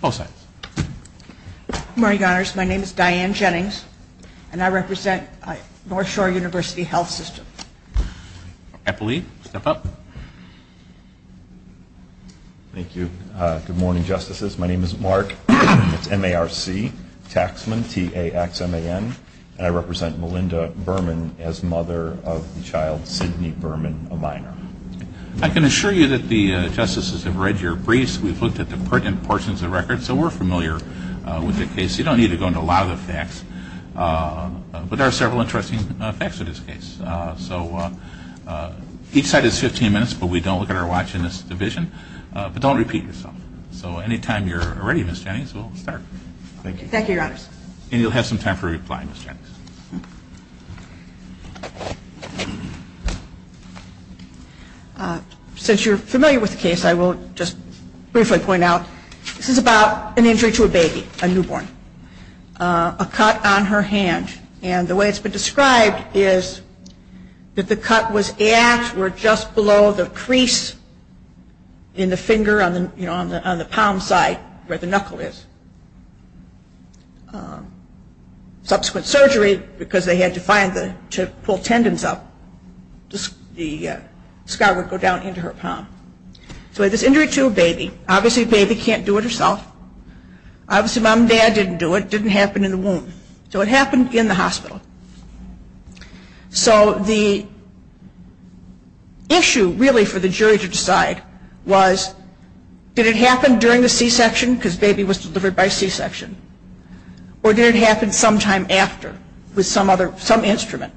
Both sides. Good morning, Your Honors. My name is Diane Jennings, and I represent Northshore University Healthsystem. Appellee, step up. Thank you. Good morning, Justices. My name is Mark. It's M-A-R-C, Taxman, T-A-X-M-A-N. And I represent Melinda Berman as mother of the child, Sydney Berman, a minor. I can assure you that the Justices have read your briefs. We've looked at the pertinent portions of the record, so we're familiar with the case. You don't need to go into a lot of the facts. But there are several interesting facts in this case. So each side has 15 minutes, but we don't look at our watch in this division. But don't repeat yourself. So anytime you're ready, Ms. Jennings, we'll start. Thank you. Thank you, Your Honors. And you'll have some time for replying, Ms. Jennings. Since you're familiar with the case, I will just briefly point out, this is about an injury to a baby, a newborn. A cut on her hand. And the way it's been described is that the cut was at or just below the crease in the finger on the palm side where the knuckle is. Subsequent surgery, because they had to pull tendons up, the scar would go down into her palm. So this injury to a baby, obviously the baby can't do it herself. Obviously mom and dad didn't do it. It didn't happen in the womb. So it happened in the hospital. So the issue really for the jury to decide was, did it happen during the C-section because baby was delivered by C-section? Or did it happen sometime after with some instrument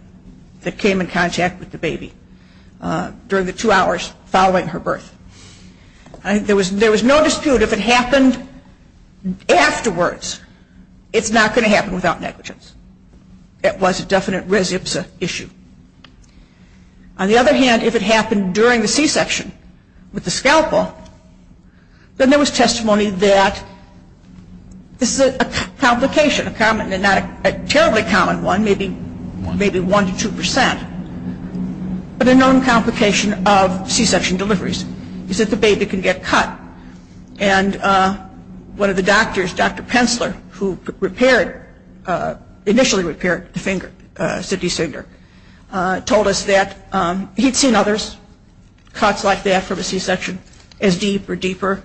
that came in contact with the baby during the two hours following her birth? There was no dispute if it happened afterwards, it's not going to happen without negligence. It was a definite res ipsa issue. On the other hand, if it happened during the C-section with the scalpel, then there was testimony that this is a complication, a terribly common one, maybe 1 to 2 percent. But a known complication of C-section deliveries is that the baby can get cut. And one of the doctors, Dr. Pensler, who repaired, initially repaired the finger, Sidney's finger, told us that he'd seen others, cuts like that from a C-section as deep or deeper,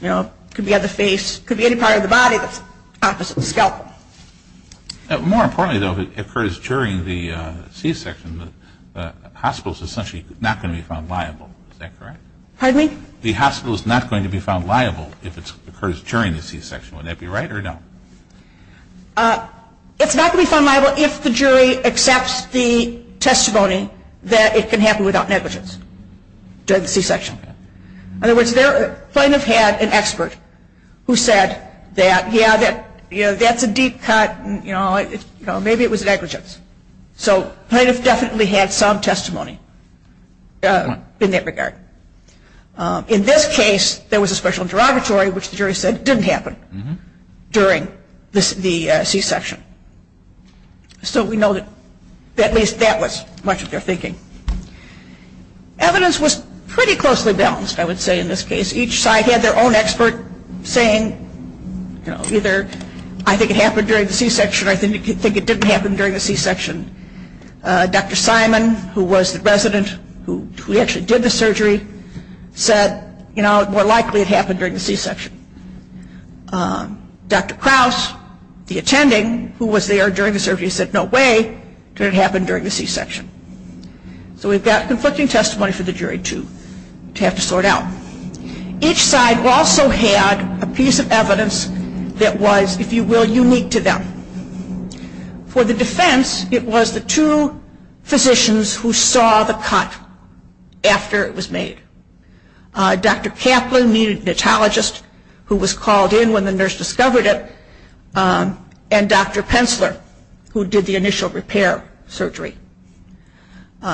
you know, could be on the face, could be any part of the body that's opposite the scalpel. More importantly though, if it occurs during the C-section, the hospital is essentially not going to be found liable, is that correct? Pardon me? The hospital is not going to be found liable if it occurs during the C-section, would that be right or no? It's not going to be found liable if the jury accepts the testimony that it can happen without negligence during the C-section. In other words, they might have had an expert who said that, yeah, that's a deep cut, you know, maybe it was negligence. So might have definitely had some testimony in that regard. In this case, there was a special interrogatory, which the jury said didn't happen during the C-section. So we know that at least that was much of their thinking. Evidence was pretty closely balanced, I would say, in this case. Each side had their own expert saying, you know, either I think it happened during the C-section or I think it didn't happen during the C-section. Dr. Simon, who was the resident who actually did the surgery, said, you know, more likely it happened during the C-section. Dr. Krauss, the attending, who was there during the surgery, said no way did it happen during the C-section. So we've got conflicting testimony for the jury, too, to have to sort out. Each side also had a piece of evidence that was, if you will, unique to them. For the defense, it was the two physicians who saw the cut after it was made. Dr. Kaplan, the neonatologist who was called in when the nurse discovered it, and Dr. Pensler, who did the initial repair surgery,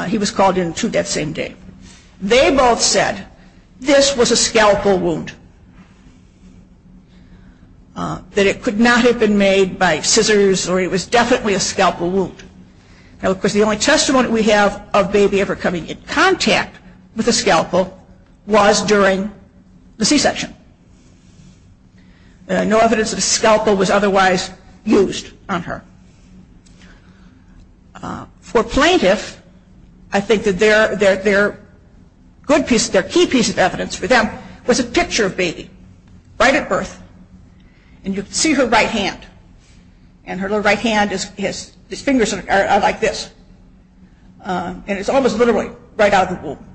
he was called in, too, that same day. They both said this was a scalpel wound, that it could not have been made by scissors or it was definitely a scalpel wound. Now, of course, the only testimony we have of a baby ever coming in contact with a scalpel was during the C-section. There was no evidence that a scalpel was otherwise used on her. For plaintiffs, I think that their good piece, their key piece of evidence for them was a picture of baby, right at birth. And you can see her right hand. And her right hand is, her fingers are like this. And it's almost literally right out of the womb.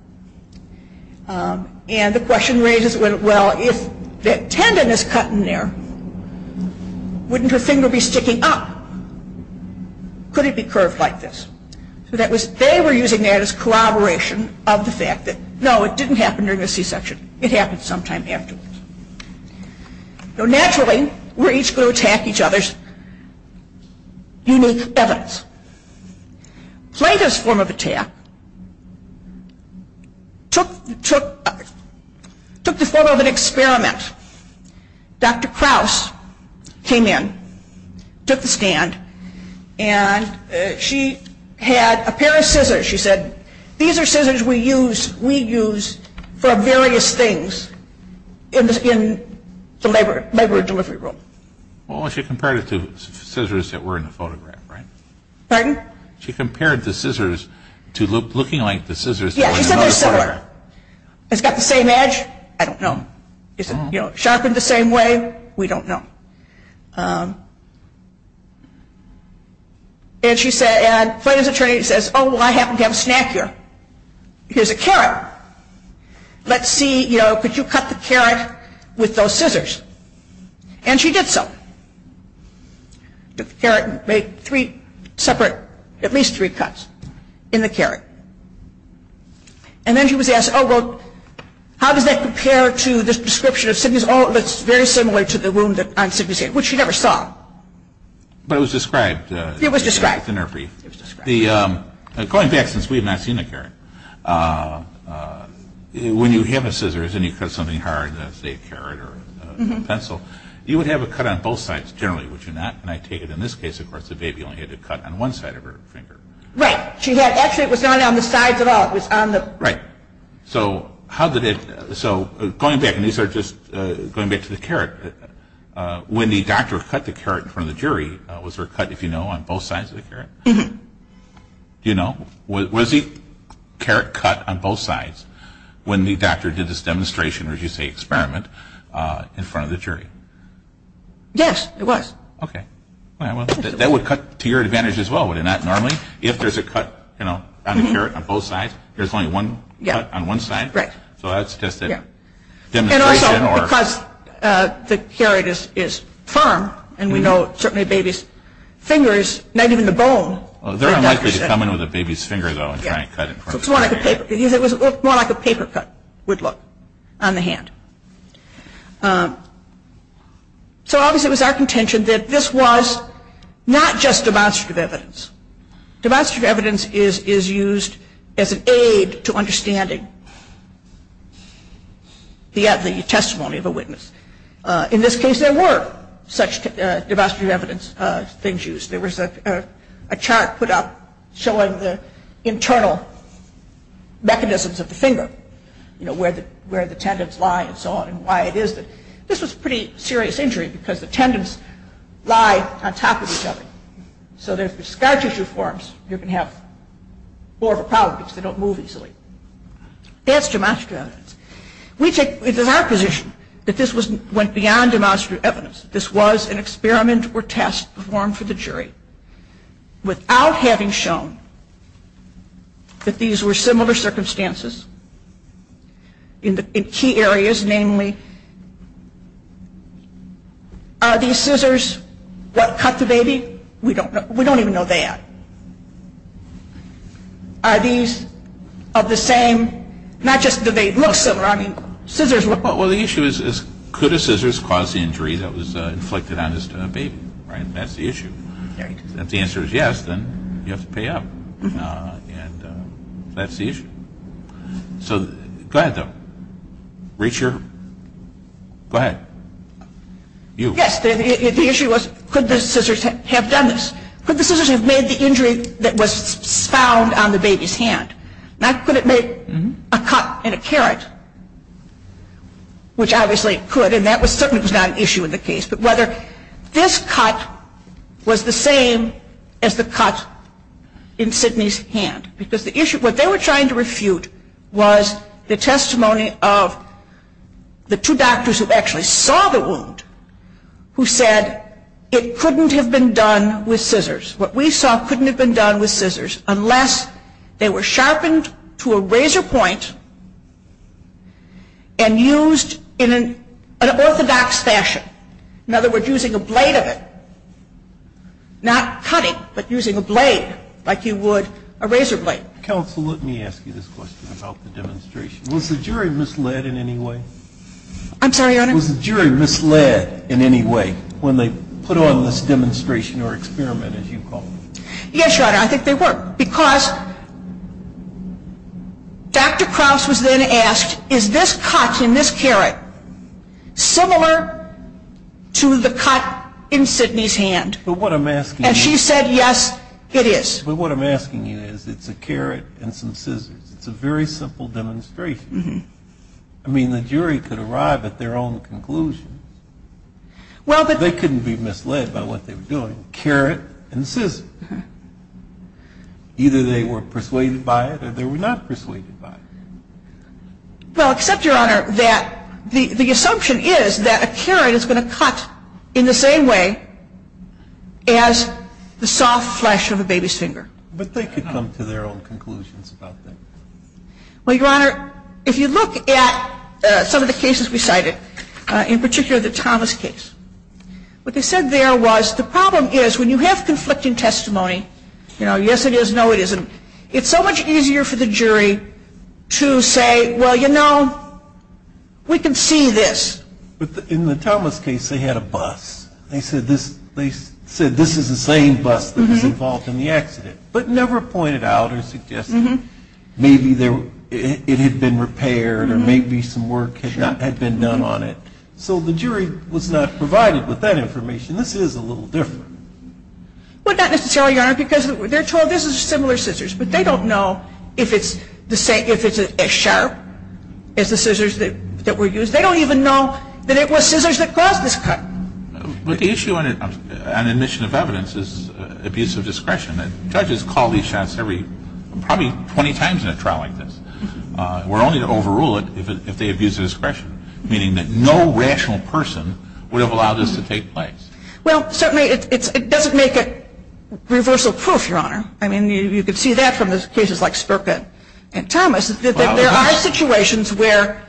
And the question raises, well, if that tendon is cut in there, wouldn't her finger be sticking up? Could it be curved like this? So that was, they were using that as corroboration of the fact that, no, it didn't happen during the C-section. It happened sometime afterwards. So naturally, we're each going to attack each other's unique evidence. Plaintiff's form of attack took the form of an experiment. Dr. Krause came in, took the stand, and she had a pair of scissors. She said, these are scissors we use for various things in the labor delivery room. Well, she compared it to scissors that were in the photograph, right? Pardon? She compared the scissors to looking like the scissors that were in the photograph. Yeah, she said they're similar. It's got the same edge? I don't know. Is it sharpened the same way? We don't know. And she said, and Plaintiff's attorney says, oh, well, I happen to have a snack here. Here's a carrot. Let's see, you know, could you cut the carrot with those scissors? And she did so. Took the carrot and made three separate, at least three cuts in the carrot. And then she was asked, oh, well, how does that compare to this description of Sidney's? Oh, it looks very similar to the wound on Sidney's head, which she never saw. But it was described? It was described. In her brief. It was described. Going back, since we have not seen the carrot, when you have the scissors and you cut something hard, say a carrot or a pencil, you would have a cut on both sides, generally, would you not? And I take it in this case, of course, the baby only had a cut on one side of her finger. Right. She had, actually, it was not on the sides at all. It was on the. Right. So how did it, so going back, and these are just going back to the carrot, when the doctor cut the carrot in front of the jury, was there a cut, if you know, on both sides of the carrot? Do you know? Was the carrot cut on both sides when the doctor did this demonstration, or as you say, experiment, in front of the jury? Yes, it was. Okay. Well, that would cut to your advantage as well, would it not, normally? If there is a cut, you know, on the carrot on both sides, there is only one cut on one side. Right. So that is just a demonstration or. And also, because the carrot is firm, and we know certainly a baby's fingers, not even the bone. They are unlikely to come in with a baby's finger, though, and try and cut in front of the jury. It was more like a paper cut, would look, on the hand. So obviously it was our contention that this was not just demonstrative evidence. Demonstrative evidence is used as an aid to understanding the testimony of a witness. In this case, there were such demonstrative evidence things used. There was a chart put up showing the internal mechanisms of the finger, you know, where the tendons lie and so on, and why it is that. This was a pretty serious injury, because the tendons lie on top of each other. So if there are scar tissue forms, you can have more of a problem, because they don't move easily. That's demonstrative evidence. We take, it is our position that this went beyond demonstrative evidence. This was an experiment or test performed for the jury, without having shown that these were similar circumstances in key areas, namely, are these scissors what cut the baby? We don't even know that. Are these of the same, not just do they look similar, I mean, scissors were. Well, the issue is, could a scissors cause the injury that was inflicted on this baby? That's the issue. If the answer is yes, then you have to pay up. That's the issue. So, go ahead, though. Reach your, go ahead. You. Yes, the issue was, could the scissors have done this? Could the scissors have made the which obviously it could, and that certainly was not an issue in the case, but whether this cut was the same as the cut in Sidney's hand. Because the issue, what they were trying to refute was the testimony of the two doctors who actually saw the wound, who said it couldn't have been done with scissors. What we saw couldn't have been done with scissors, unless they were sharpened to a razor point and used in an orthodox fashion. In other words, using a blade of it. Not cutting, but using a blade like you would a razor blade. Counsel, let me ask you this question about the demonstration. Was the jury misled in any way? I'm sorry, Your Honor? Was the jury misled in any way when they put on this demonstration or experiment, as you call it? Yes, Your Honor, I think they were. Because Dr. Krauss was then asked, is this cut in this carrot similar to the cut in Sidney's hand? But what I'm asking you And she said, yes, it is. But what I'm asking you is, it's a carrot and some scissors. It's a very simple demonstration. I mean, the jury could arrive at their own conclusions. Well, but They couldn't be misled by what they were doing. Carrot and scissor. Either they were persuaded by it or they were not persuaded by it. Well, except, Your Honor, that the assumption is that a carrot is going to cut in the same way as the soft flesh of a baby's finger. But they could come to their own conclusions about that. Well, Your Honor, if you look at some of the cases we cited, in particular the Thomas case, what they said there was, the problem is, when you have conflicting testimony, you know, yes it is, no it isn't, it's so much easier for the jury to say, well, you know, we can see this. But in the Thomas case, they had a bus. They said this is the same bus that was involved in the accident, but never pointed out or suggested maybe it had been repaired or maybe some work had been done on it. So the jury was not provided with that information. This is a little different. Well, not necessarily, Your Honor, because they're told this is similar scissors, but they don't know if it's as sharp as the scissors that were used. They don't even know that it was scissors that caused this cut. But the issue on admission of evidence is abuse of discretion. And judges call these shots every, probably 20 times in a trial like this. We're only to overrule it if they abuse of discretion, meaning that no rational person would have allowed this to take place. Well, certainly it doesn't make it reversal proof, Your Honor. I mean, you can see that from the cases like Spurka and Thomas, that there are situations where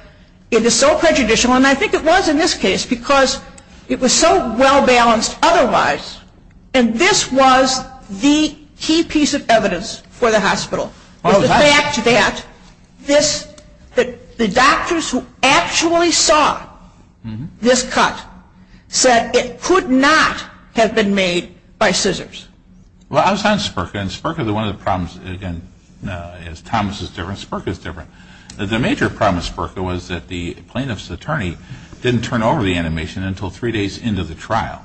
it is so prejudicial, and I think it was in this case, because it was so well-balanced otherwise, and this was the key piece of evidence for the hospital, was the fact that this, that the doctors who actually saw this cut said it could not have been made by scissors. Well, I was on Spurka, and Spurka, one of the problems, again, is Thomas is different, Spurka is different. The major problem with Spurka was that the plaintiff's attorney didn't turn over the animation until three days into the trial.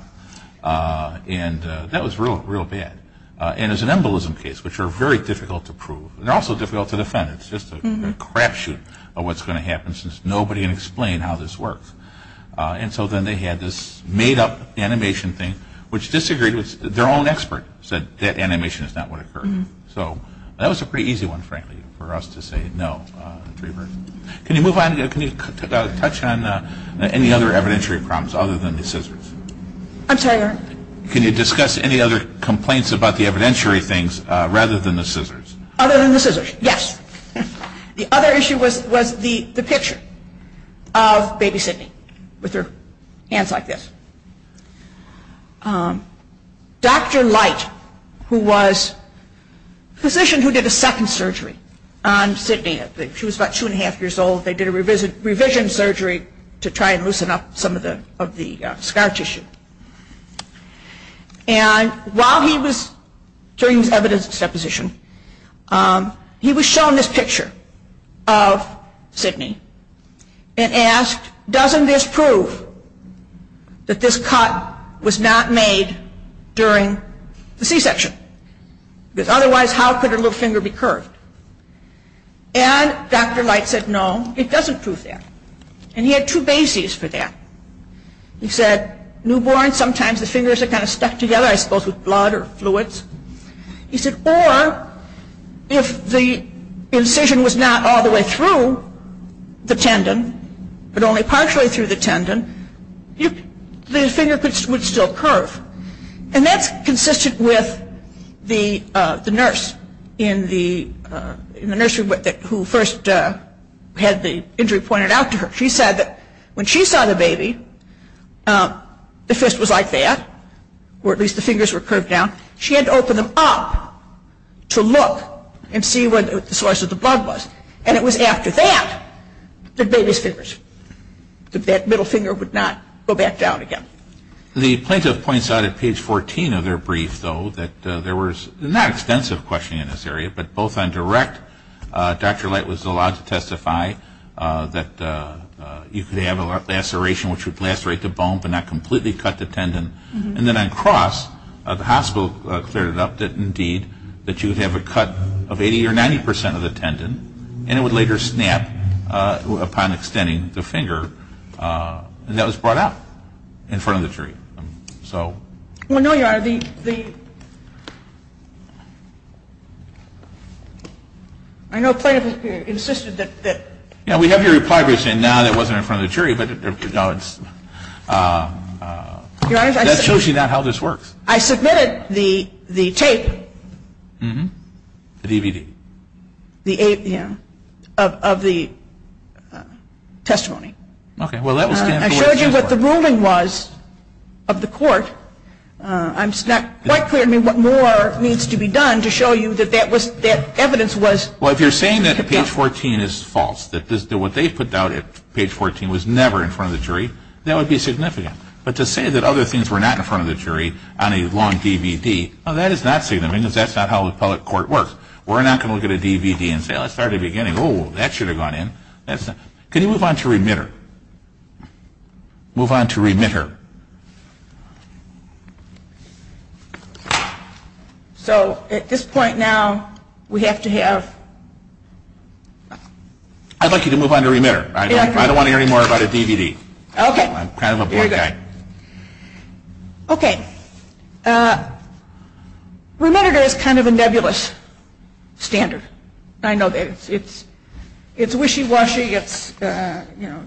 And that was real, real bad. And as an embolism case, which are very difficult to prove, and also difficult to defend, it's just a crapshoot of what's going to happen, since nobody can explain how this works. And so then they had this made-up animation thing, which disagreed with, their own expert said that animation is not what occurred. So, that was a pretty easy one, frankly, for us to say no to reversal. Can you move on, can you touch on any other evidentiary problems other than the scissors? I'm sorry, Your Honor? Can you discuss any other complaints about the evidentiary things rather than the scissors? Other than the scissors, yes. The other issue was the picture of baby Sidney with her hands like this. Dr. Light, who was a physician who did a second surgery on Sidney, she was about two and a half years old, they did a revision surgery to try and loosen up some of the scar tissue. And while he was, during his evidence deposition, he was shown this picture of Sidney and asked, doesn't this prove that this cut was not made during the C-section? Because otherwise how could her little finger be curved? And Dr. Light said no, it doesn't prove that. And he had two bases for that. He said, newborn, sometimes the fingers are kind of stuck together, I suppose with blood or fluids. He said, or if the incision was not all the way through the tendon, but only partially through the tendon, the finger would still curve. And that's consistent with the nurse in the nursery who first had the injury pointed out to her. She said that when she saw the baby, the fist was like that, or at least the fingers were curved down. She had to open them up to look and see what the source of the blood was. And it was after that, the baby's fingers, that middle finger would not go back down again. The plaintiff points out at page 14 of their brief, though, that there was not extensive questioning in this area. But both on direct, Dr. Light was allowed to testify that you could have a laceration which would lacerate the bone, but not completely cut the tendon. And then on cross, the hospital cleared it up that indeed, that you would have a cut of 80 or 90 percent of the tendon, and it would later snap upon extending the finger. And that was brought out in front of the jury. Well, no, Your Honor, the, I know plaintiff insisted that Yeah, we have your reply briefs in now that wasn't in front of the jury, but that shows you not how this works. I submitted the tape The DVD Yeah, of the testimony. I showed you what the ruling was of the court. It's not quite clear to me what more needs to be done to show you that that evidence was Well, if you're saying that page 14 is false, that what they put out at page 14 was never in front of the jury, that would be significant. But to say that other things were not in front of the jury on a long DVD, well, that is not significant because that's not how a public court works. We're not going to look at a DVD and say, well, let's start at the beginning. Oh, that should have gone in. Can you move on to remitter? Move on to remitter. So at this point now, we have to have I'd like you to move on to remitter. I don't want to hear any more about a DVD. I'm kind of a blind guy. Okay. Remitter is kind of a nebulous standard. I know that it's wishy-washy. It's, you know,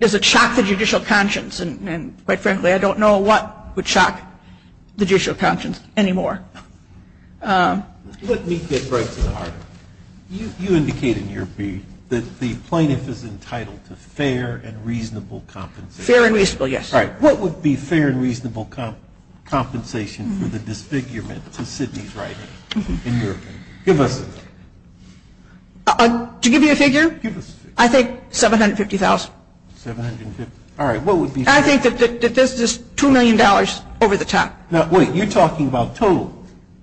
does it shock the judicial conscience? And quite frankly, I don't know what would shock the judicial conscience anymore. Let me get right to the heart of it. You indicated in your brief that the plaintiff is entitled to fair and reasonable compensation. Fair and reasonable, yes. All right. What would be fair and reasonable compensation for the disfigurement to Sidney's writing in your opinion? Give us a figure. To give you a figure? Give us a figure. I think $750,000. $750,000. All right. What would be fair? I think that this is $2 million over the top. Now, wait. You're talking about total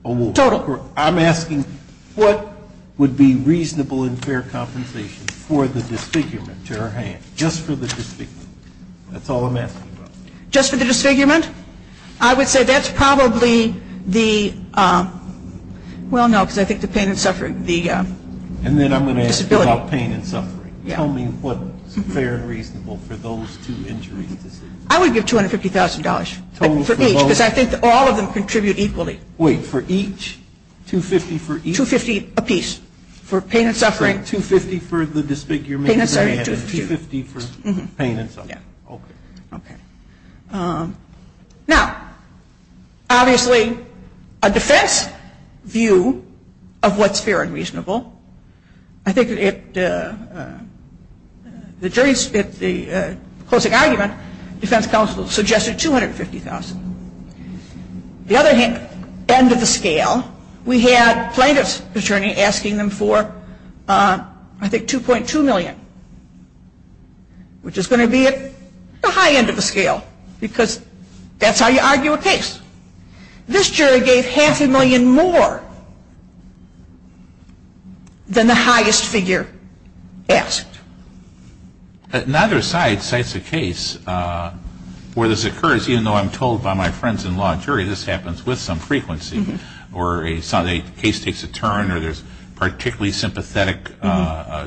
award. Total. I'm asking what would be reasonable and fair compensation for the disfigurement to her hand, just for the disfigurement. That's all I'm asking about. Just for the disfigurement? I would say that's probably the, well, no, because I think the pain and suffering, the disability. And then I'm going to ask you about pain and suffering. Tell me what's fair and reasonable for those two injuries to Sidney. I would give $250,000. Total for both? For each, because I think all of them contribute equally. Wait. For each? $250,000 for each? $250,000 apiece. For pain and suffering. $250,000 for the disfigurement. Pain and suffering. $250,000 for pain and suffering. Yeah. Okay. Okay. Now, obviously, a defense view of what's fair and reasonable, I think it, the jury's, at the closing argument, defense counsel suggested $250,000. The other hand, end of the scale, we had plaintiff's attorney asking them for, I think, $2.2 million, which is going to be at the high end of the scale, because that's how you argue a case. This jury gave half a million more than the highest figure asked. Neither side cites a case where this occurs, even though I'm told by my friends in law and jury this happens with some frequency, or a case takes a turn, or there's particularly sympathetic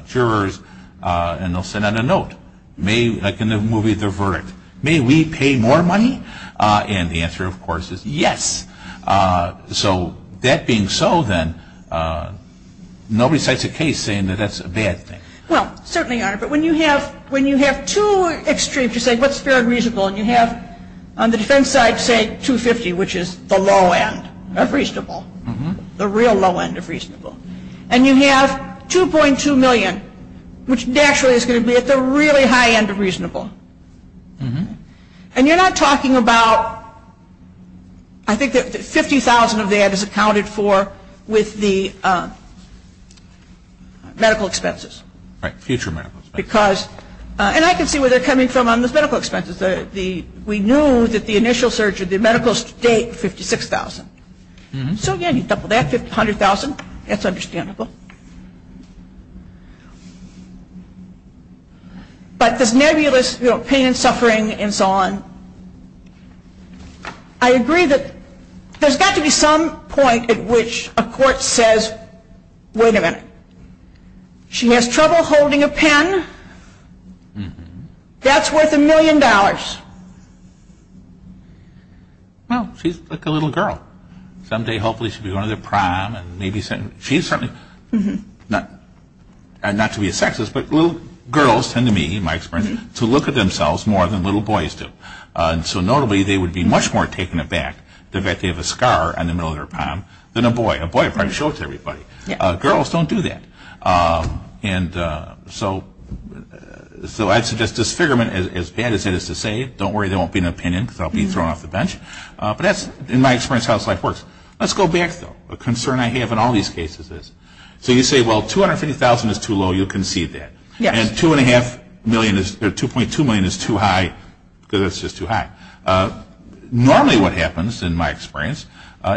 jurors, and they'll send out a note, like in the movie, The Verdict, may we pay more money? And the answer, of course, is yes. So that being so, then, nobody cites a case saying that that's a bad thing. Well, certainly not. But when you have two extremes, you say what's fair and reasonable, and you have, on the defense side, say $250,000, which is the low end of reasonable, the real low end of reasonable. And you have $2.2 million, which naturally is going to be at the really high end of reasonable. And you're not talking about, I think that $50,000 of that is accounted for with the medical expenses. Right, future medical expenses. Because, and I can see where they're coming from on those medical expenses. We knew that the initial surge of the medical state, $56,000. So again, you double that, $100,000, that's reasonable. But this nebulous pain and suffering and so on, I agree that there's got to be some point at which a court says, wait a minute, she has trouble holding a pen, that's worth a million dollars. Well, she's like a little girl. Someday, hopefully, she'll be going to the prime, and maybe, she's certainly, not to be a sexist, but little girls tend to me, in my experience, to look at themselves more than little boys do. So notably, they would be much more taken aback the fact that they have a scar on the middle of their palm than a boy. A boy probably shows everybody. Girls don't do that. And so I'd suggest disfigurement, as bad as it is to say, don't worry, there won't be an opinion, because I'll be thrown off the bench. But that's, in my experience, how this stuff works. Let's go back, though. A concern I have in all these cases is, so you say, well, $250,000 is too low, you concede that. And $2.2 million is too high, because it's just too high. Normally what happens, in my experience,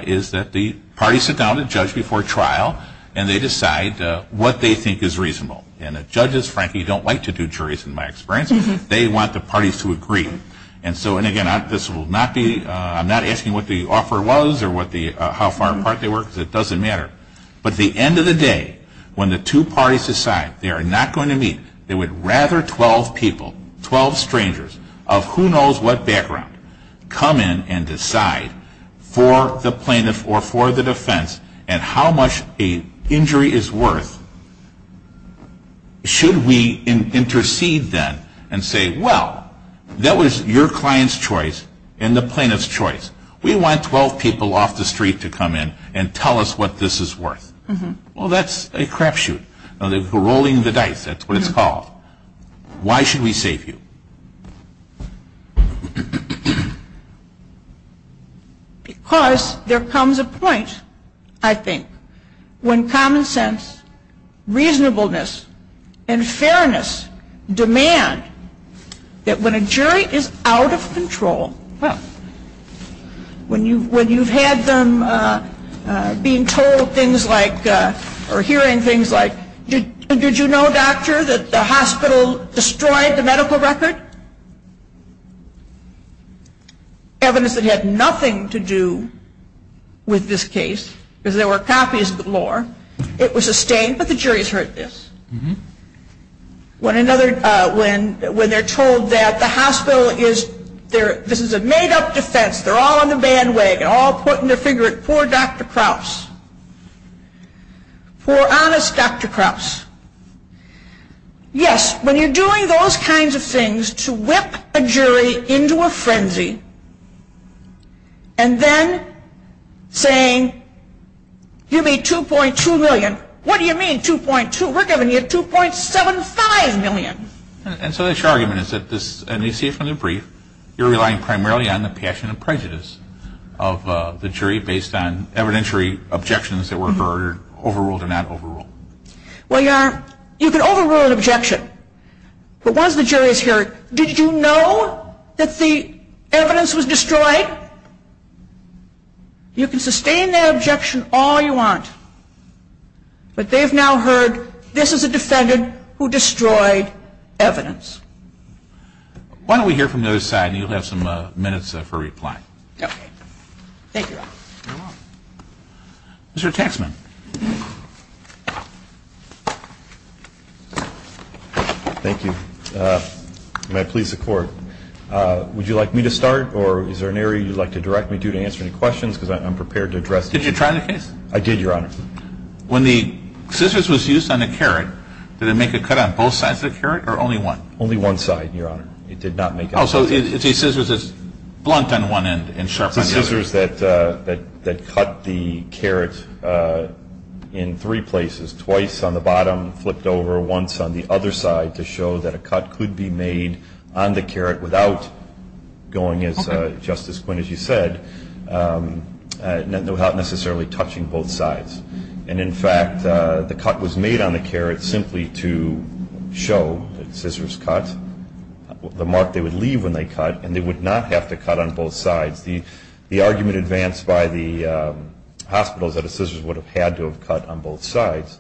is that the parties sit down with the judge before trial, and they decide what they think is reasonable. And the judges, frankly, don't like to do juries, in my experience. They want the parties to agree. And so, and again, this will not be, I'm not asking what the offer was, or what the, how far apart they were, because it doesn't matter. But at the end of the day, when the two parties decide they are not going to meet, they would rather 12 people, 12 strangers, of who knows what background, come in and decide for the plaintiff or for the defense, at how much a injury is worth, should we intercede then, and say, well, that was too high. That was your client's choice, and the plaintiff's choice. We want 12 people off the street to come in and tell us what this is worth. Well, that's a crapshoot. They're rolling the dice, that's what it's called. Why should we save you? Because there comes a point, I think, when common sense, reasonableness, and fairness demand that when a jury is out of control, when you've had them being told things like, or hearing things like, did you know, doctor, that the hospital destroyed the medical record? Evidence that had nothing to do with this case, because there were copies of the law, it was sustained, but the jury has heard this. When they're told that the hospital is, this is a made-up defense, they're all on the bandwagon, all putting their finger at poor Dr. Kraus, poor honest Dr. Kraus. Yes, when you're doing those kinds of things to whip a jury into a frenzy, and then saying, you made $2.2 million, what do you mean $2.2? We're giving you $2.75 million. And so this argument is that this, and we see it from the brief, you're relying primarily on the passion and prejudice of the jury based on evidentiary objections that were overruled or not overruled. Well, you can overrule an objection, but once the jury's heard, did you know that the evidence was destroyed? You can sustain that objection all you want, but they've now heard, this is a defendant who destroyed evidence. Why don't we hear from the other side, and you'll have some minutes for reply. Mr. Taxman. Thank you. May I please the Court? Would you like me to start, or is there an area you'd like to direct me to, to answer any questions, because I'm prepared to address the jury. Did you try the case? I did, Your Honor. When the scissors was used on the carrot, did it make a cut on both sides of the carrot, or only one? Only one side, Your Honor. It did not make a cut. The scissors that cut the carrot in three places, twice on the bottom, flipped over once on the other side to show that a cut could be made on the carrot without going, as Justice Quinn, as you said, not necessarily touching both sides. And in fact, the cut was made on the carrot simply to show that scissors cut, the mark they would leave when they cut, and they would not have to cut on both sides. The argument advanced by the hospitals that a scissors would have had to have cut on both sides.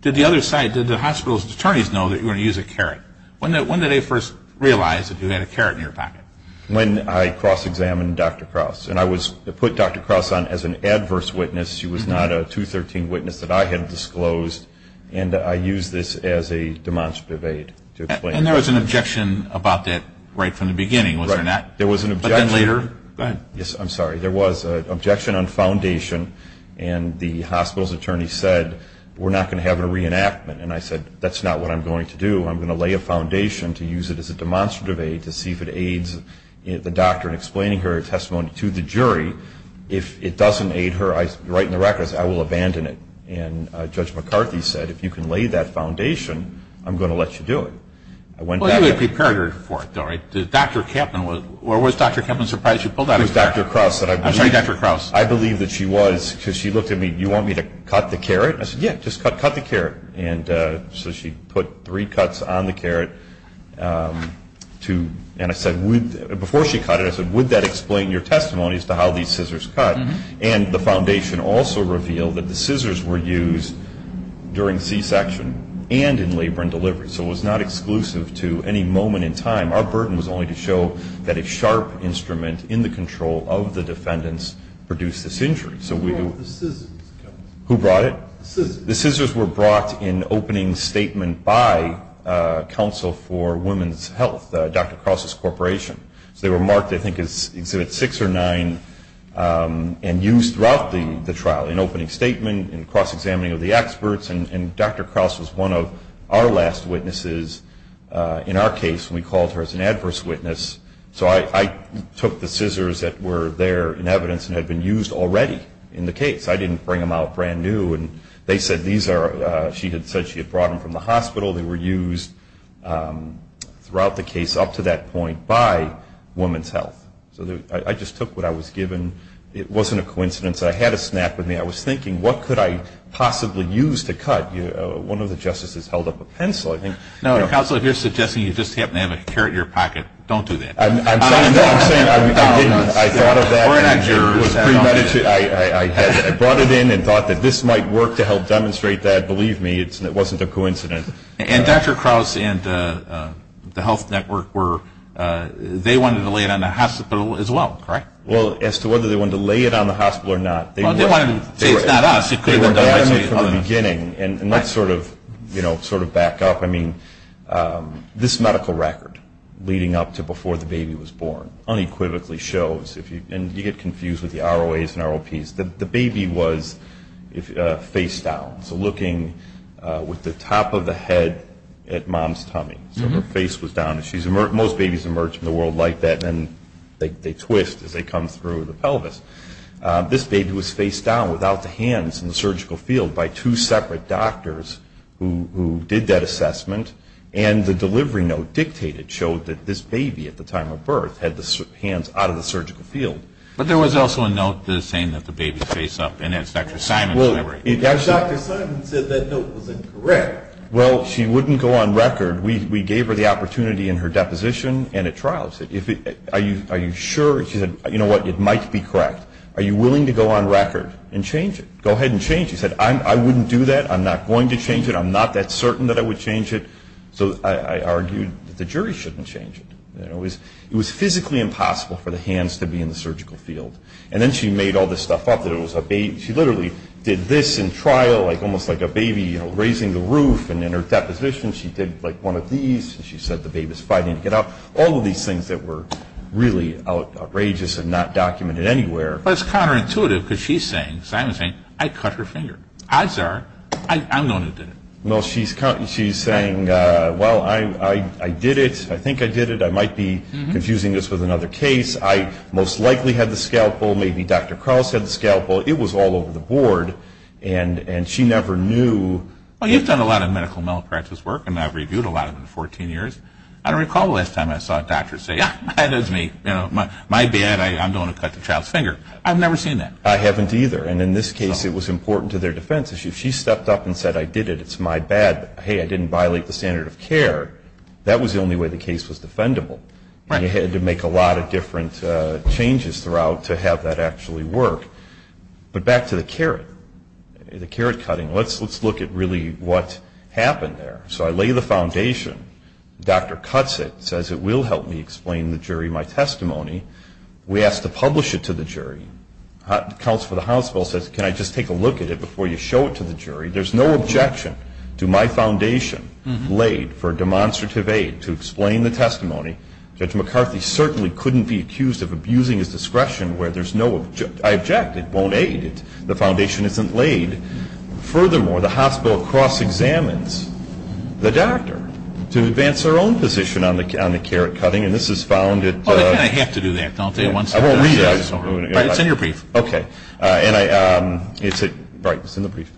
Did the other side, did the hospital's attorneys know that you were going to use a carrot? When did they first realize that you had a carrot in your pocket? When I cross-examined Dr. Krauss, and I put Dr. Krauss on as an adverse witness. She was not a 213 witness that I had disclosed, and I used this as a demonstrative aid to explain. And there was an objection about that right from the beginning, was there not? Right. There was an objection. But then later, go ahead. Yes, I'm sorry. There was an objection on foundation, and the hospital's attorney said, we're not going to have a reenactment. And I said, that's not what I'm going to do. I'm going to lay a foundation to use it as a demonstrative aid to see if it aids the doctor in explaining her testimony to the jury. If it doesn't aid her right in the records, I will abandon it. And Judge McCarthy said, if you can lay that foundation, I'm going to let you do it. Well, he would have prepared her for it, though, right? Did Dr. Kempman, or was Dr. Kempman surprised she pulled out a carrot? It was Dr. Krauss. I'm sorry, Dr. Krauss. I believe that she was, because she looked at me, do you want me to cut the carrot? I said, yeah, just cut the carrot. And so she put three cuts on the carrot. And I said, before she cut it, I said, would that explain your testimony as to how these scissors cut? And the foundation also revealed that the scissors were used during C-section and in labor and delivery. So it was not exclusive to any moment in time. Our burden was only to show that a sharp instrument in the control of the defendants produced this injury. Who brought the scissors? Who brought it? The scissors. The scissors were brought in opening statement by Council for Women's Health, Dr. Krauss's corporation. So they were marked, I think, as Exhibit 6 or 9 and used throughout the trial, in opening statement, in cross-examining of the experts. And Dr. Krauss was one of our last witnesses in our case. We called her as an adverse witness. So I took the scissors that were there in evidence and had been used already in the case. I didn't bring them out brand new. And they said these are, she had said she had brought them from the hospital. They were used throughout the case up to that point by Women's Health. So I just took what I was given. It wasn't a coincidence. I had a snap in me. I was thinking, what could I possibly use to cut? One of the justices held up a pencil, I think. Now, Counselor, if you're suggesting you just happen to have a carrot in your pocket, don't do that. I'm sorry. No, I'm saying I didn't. I thought of that. We're not jurors. I brought it in and thought that this might work to help demonstrate that. And believe me, it wasn't a coincidence. And Dr. Krause and the Health Network were, they wanted to lay it on the hospital as well, correct? Well, as to whether they wanted to lay it on the hospital or not, they were. Well, they wanted to say it's not us. They were bad at it from the beginning. And let's sort of, you know, sort of back up. I mean, this medical record leading up to before the baby was born unequivocally shows, and you get confused with the ROAs and ROPs, that the baby was face down. So looking with the top of the head at mom's tummy. So her face was down. Most babies emerge from the world like that, and they twist as they come through the pelvis. This baby was face down without the hands in the surgical field by two separate doctors who did that assessment. And the delivery note dictated, showed that this baby at the time of birth had the hands out of the surgical field. But there was also a note saying that the baby was face up, and that's Dr. Simon's library. Dr. Simon said that note was incorrect. Well, she wouldn't go on record. We gave her the opportunity in her deposition and at trial. We said, are you sure? She said, you know what, it might be correct. Are you willing to go on record and change it? Go ahead and change it. She said, I wouldn't do that. I'm not going to change it. I'm not that certain that I would change it. So I argued that the jury shouldn't change it. It was physically impossible for the hands to be in the surgical field. And then she made all this stuff up that it was a baby. She literally did this in trial, like almost like a baby raising the roof. And in her deposition she did, like, one of these. She said the baby's fighting to get up. All of these things that were really outrageous and not documented anywhere. But it's counterintuitive because she's saying, Simon's saying, I cut her finger. Odds are I'm the one who did it. Well, she's saying, well, I did it. I think I did it. I might be confusing this with another case. I most likely had the scalpel. Maybe Dr. Krause had the scalpel. It was all over the board. And she never knew. Well, you've done a lot of medical malpractice work. And I've reviewed a lot of it in 14 years. I don't recall the last time I saw a doctor say, yeah, that is me. My bad. I'm going to cut the child's finger. I've never seen that. I haven't either. And in this case it was important to their defense. If she stepped up and said, I did it. It's my bad. Hey, I didn't violate the standard of care. That was the only way the case was defendable. And you had to make a lot of different changes throughout to have that actually work. But back to the carrot, the carrot cutting. Let's look at really what happened there. So I lay the foundation. The doctor cuts it, says it will help me explain the jury my testimony. We ask to publish it to the jury. The counsel for the hospital says, can I just take a look at it before you show it to the jury? There's no objection to my foundation laid for demonstrative aid to explain the testimony. Judge McCarthy certainly couldn't be accused of abusing his discretion where there's no objection. I object. It won't aid. The foundation isn't laid. Furthermore, the hospital cross-examines the doctor to advance their own position on the carrot cutting. And this is found at the. Oh, they kind of have to do that, don't they? I won't read it. It's in your brief. Okay. And it's in the brief.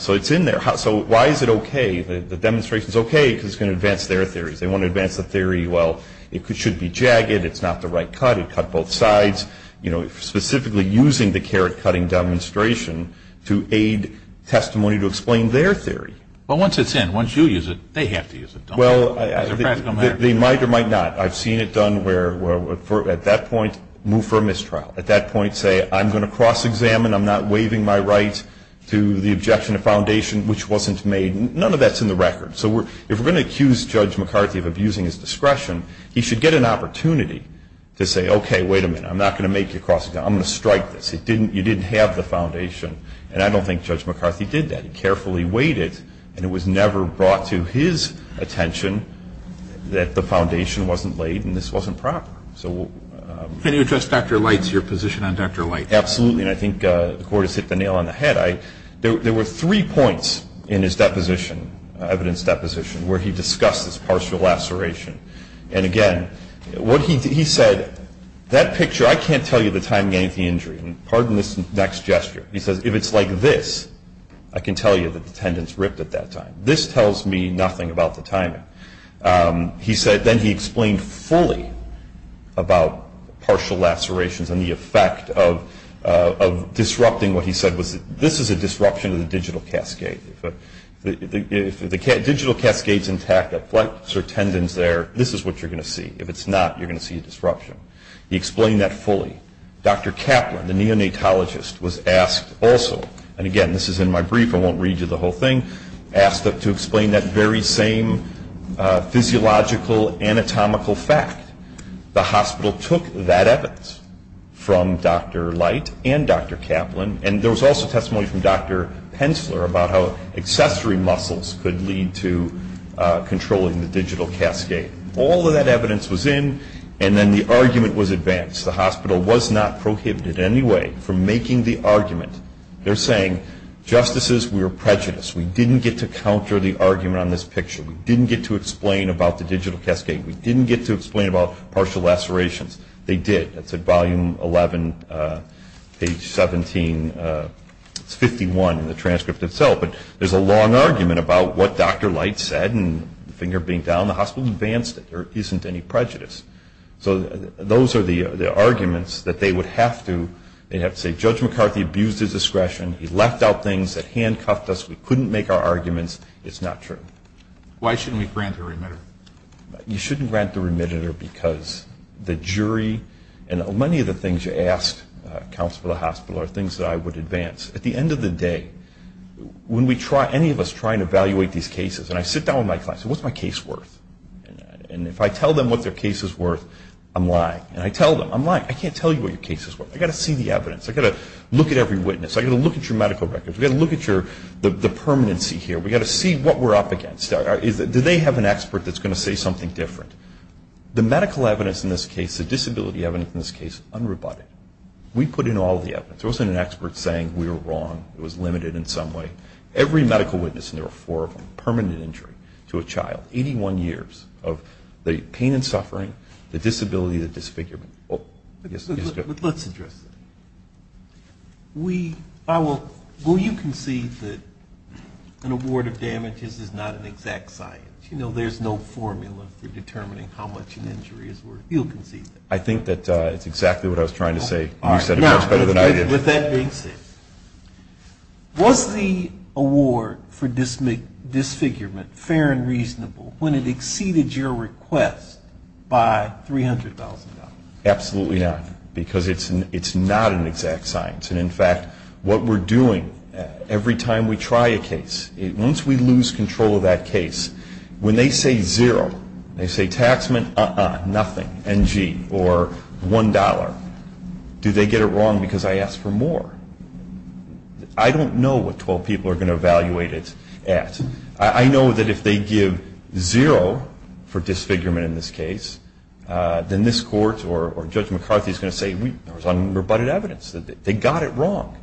So it's in there. So why is it okay? The demonstration is okay because it's going to advance their theories. They want to advance the theory, well, it should be jagged. It's not the right cut. It cut both sides. You know, specifically using the carrot cutting demonstration to aid testimony to explain their theory. Well, once it's in, once you use it, they have to use it, don't they? As a practical matter. They might or might not. I've seen it done where at that point move for a mistrial. At that point say, I'm going to cross-examine. I'm not waiving my right to the objection to foundation which wasn't made. None of that's in the record. So if we're going to accuse Judge McCarthy of abusing his discretion, he should get an opportunity to say, okay, wait a minute, I'm not going to make you cross-examine. I'm going to strike this. You didn't have the foundation. And I don't think Judge McCarthy did that. He carefully waited and it was never brought to his attention that the foundation wasn't laid and this wasn't proper. Can you address Dr. Light's, your position on Dr. Light? Absolutely. And I think the court has hit the nail on the head. There were three points in his deposition, evidence deposition, where he discussed this partial laceration. And, again, what he said, that picture, I can't tell you the timing of the injury. And pardon this next gesture. He says, if it's like this, I can tell you that the tendon's ripped at that time. This tells me nothing about the timing. He said, then he explained fully about partial lacerations and the effect of disrupting what he said was, this is a disruption of the digital cascade. If the digital cascade's intact, a flexor tendon's there, this is what you're going to see. If it's not, you're going to see a disruption. He explained that fully. Dr. Kaplan, the neonatologist, was asked also, and, again, this is in my brief, I won't read you the whole thing, asked to explain that very same physiological anatomical fact. The hospital took that evidence from Dr. Light and Dr. Kaplan, and there was also testimony from Dr. Pensler about how accessory muscles could lead to controlling the digital cascade. All of that evidence was in, and then the argument was advanced. The hospital was not prohibited in any way from making the argument. They're saying, Justices, we were prejudiced. We didn't get to counter the argument on this picture. We didn't get to explain about the digital cascade. We didn't get to explain about partial lacerations. They did. That's at volume 11, page 17. It's 51 in the transcript itself, but there's a long argument about what Dr. Light said, and the finger being down, the hospital advanced it. There isn't any prejudice. So those are the arguments that they would have to say, Judge McCarthy abused his discretion. He left out things that handcuffed us. We couldn't make our arguments. It's not true. Why shouldn't we grant the remitter? You shouldn't grant the remitter because the jury and many of the things you asked counsel for the hospital are things that I would advance. At the end of the day, when any of us try and evaluate these cases, and I sit down with my clients and say, What's my case worth? And if I tell them what their case is worth, I'm lying. And I tell them, I'm lying. I can't tell you what your case is worth. I've got to see the evidence. I've got to look at every witness. I've got to look at your medical records. We've got to look at the permanency here. We've got to see what we're up against. Do they have an expert that's going to say something different? The medical evidence in this case, the disability evidence in this case, unrebutted. We put in all the evidence. There wasn't an expert saying we were wrong. It was limited in some way. Every medical witness, and there were four of them, permanent injury to a child, 81 years of the pain and suffering, the disability, the disfigurement. Let's address that. Will you concede that an award of damages is not an exact science? There's no formula for determining how much an injury is worth. You'll concede that. I think that's exactly what I was trying to say. You said it much better than I did. With that being said, was the award for disfigurement fair and reasonable when it exceeded your request by $300,000? Absolutely not. Because it's not an exact science. And, in fact, what we're doing every time we try a case, once we lose control of that case, when they say zero, they say taxmen, uh-uh, nothing, NG, or $1, do they get it wrong because I asked for more? I don't know what 12 people are going to evaluate it at. I know that if they give zero for disfigurement in this case, then this court or Judge McCarthy is going to say there was unrebutted evidence. They got it wrong.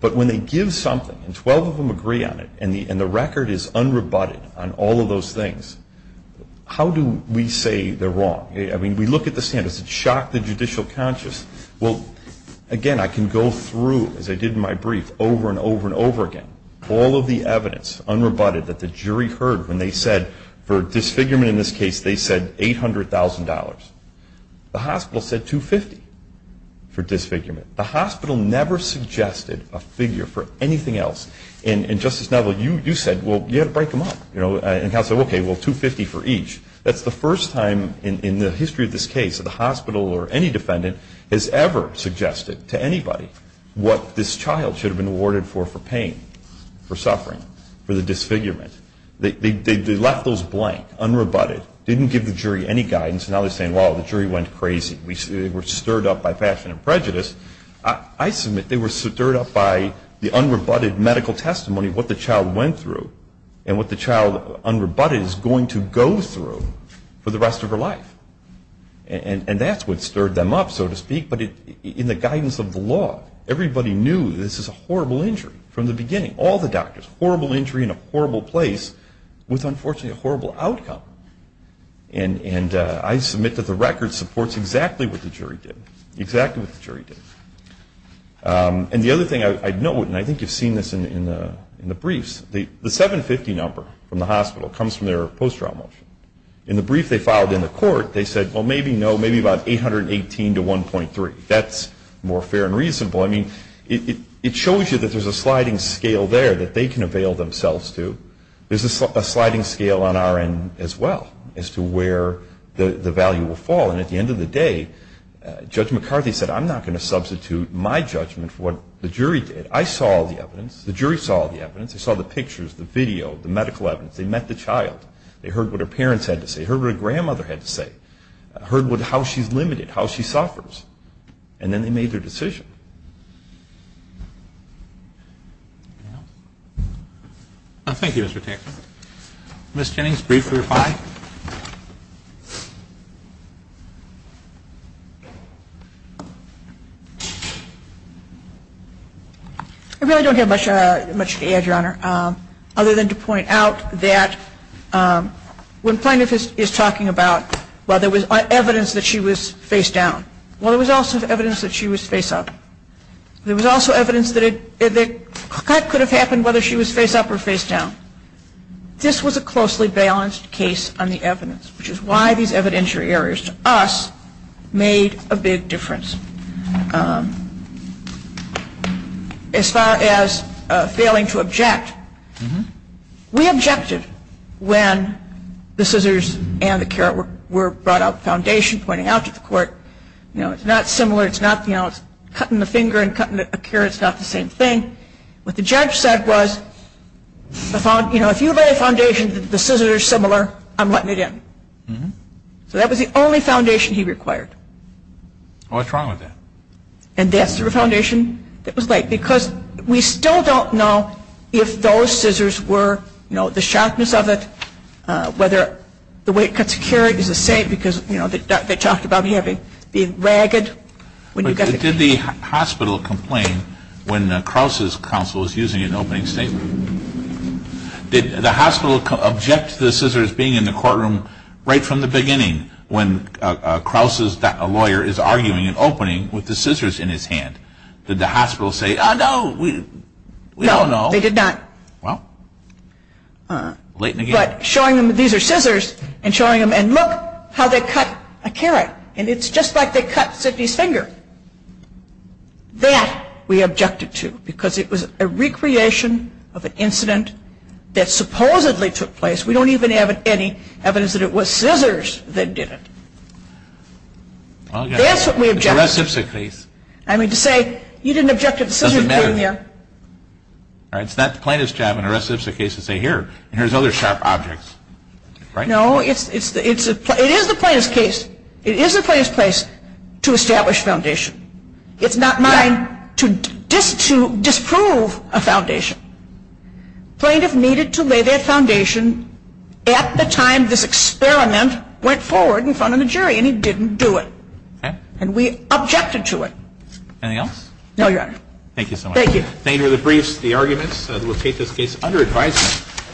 But when they give something and 12 of them agree on it, and the record is unrebutted on all of those things, how do we say they're wrong? I mean, we look at the standards. It shocked the judicial conscious. Well, again, I can go through, as I did in my brief, over and over and over again, all of the evidence, unrebutted, that the jury heard when they said for The hospital said $250 for disfigurement. The hospital never suggested a figure for anything else. And, Justice Neville, you said, well, you had to break them up. And counsel said, okay, well, $250 for each. That's the first time in the history of this case that the hospital or any defendant has ever suggested to anybody what this child should have been awarded for, for pain, for suffering, for the disfigurement. They left those blank, unrebutted, didn't give the jury any guidance, and now they're saying, well, the jury went crazy. They were stirred up by passion and prejudice. I submit they were stirred up by the unrebutted medical testimony of what the child went through and what the child, unrebutted, is going to go through for the rest of her life. And that's what stirred them up, so to speak, but in the guidance of the law, everybody knew this is a horrible injury from the beginning, all the doctors, horrible injury in a horrible place with, unfortunately, a horrible outcome. And I submit that the record supports exactly what the jury did, exactly what the jury did. And the other thing I'd note, and I think you've seen this in the briefs, the 750 number from the hospital comes from their post-trial motion. In the brief they filed in the court, they said, well, maybe no, maybe about 818 to 1.3. That's more fair and reasonable. I mean, it shows you that there's a sliding scale there that they can avail themselves to. There's a sliding scale on our end as well as to where the value will fall. And at the end of the day, Judge McCarthy said, I'm not going to substitute my judgment for what the jury did. I saw the evidence. The jury saw the evidence. They saw the pictures, the video, the medical evidence. They met the child. They heard what her parents had to say, heard what her grandmother had to say, heard how she's limited, how she suffers. And then they made their decision. Thank you, Mr. Tankman. Ms. Jennings, brief for five. I really don't have much to add, Your Honor, other than to point out that when Plaintiff is talking about, well, there was evidence that she was face down. Well, there was also evidence that she was face up. There was also evidence that a cut could have happened whether she was face up or face down. This was a closely balanced case on the evidence, which is why these evidentiary errors to us made a big difference. As far as failing to object, we objected when the scissors and the carrot were brought out of the foundation pointing out to the court, you know, it's not similar, it's not, you know, it's cutting the finger and cutting a carrot is not the same thing. What the judge said was, you know, if you lay a foundation that the scissors are similar, I'm letting it in. So that was the only foundation he required. What's wrong with that? And that's the foundation that was laid. Because we still don't know if those scissors were, you know, the sharpness of it, whether the way it cuts a carrot is the same because, you know, they talked about it being ragged. Did the hospital complain when Krause's counsel was using an opening statement? Did the hospital object to the scissors being in the courtroom right from the beginning when Krause's lawyer is arguing an opening with the scissors in his hand? Did the hospital say, oh, no, we don't know? No, they did not. Well, late in the game. But showing them these are scissors and showing them, and look how they cut a carrot. And it's just like they cut Sidney's finger. That we objected to because it was a recreation of an incident that supposedly took place. We don't even have any evidence that it was scissors that did it. That's what we objected to. I mean, to say you didn't object to the scissors being there. It's not the plaintiff's job in a recidivistic case to say here, here's other sharp objects. No, it is the plaintiff's case. It is the plaintiff's place to establish foundation. It's not mine to disprove a foundation. Plaintiff needed to lay their foundation at the time this experiment went forward in front of the jury, and he didn't do it. And we objected to it. Anything else? No, Your Honor. Thank you so much. Thank you. Thank you to the briefs, the arguments that will take this case under advisement.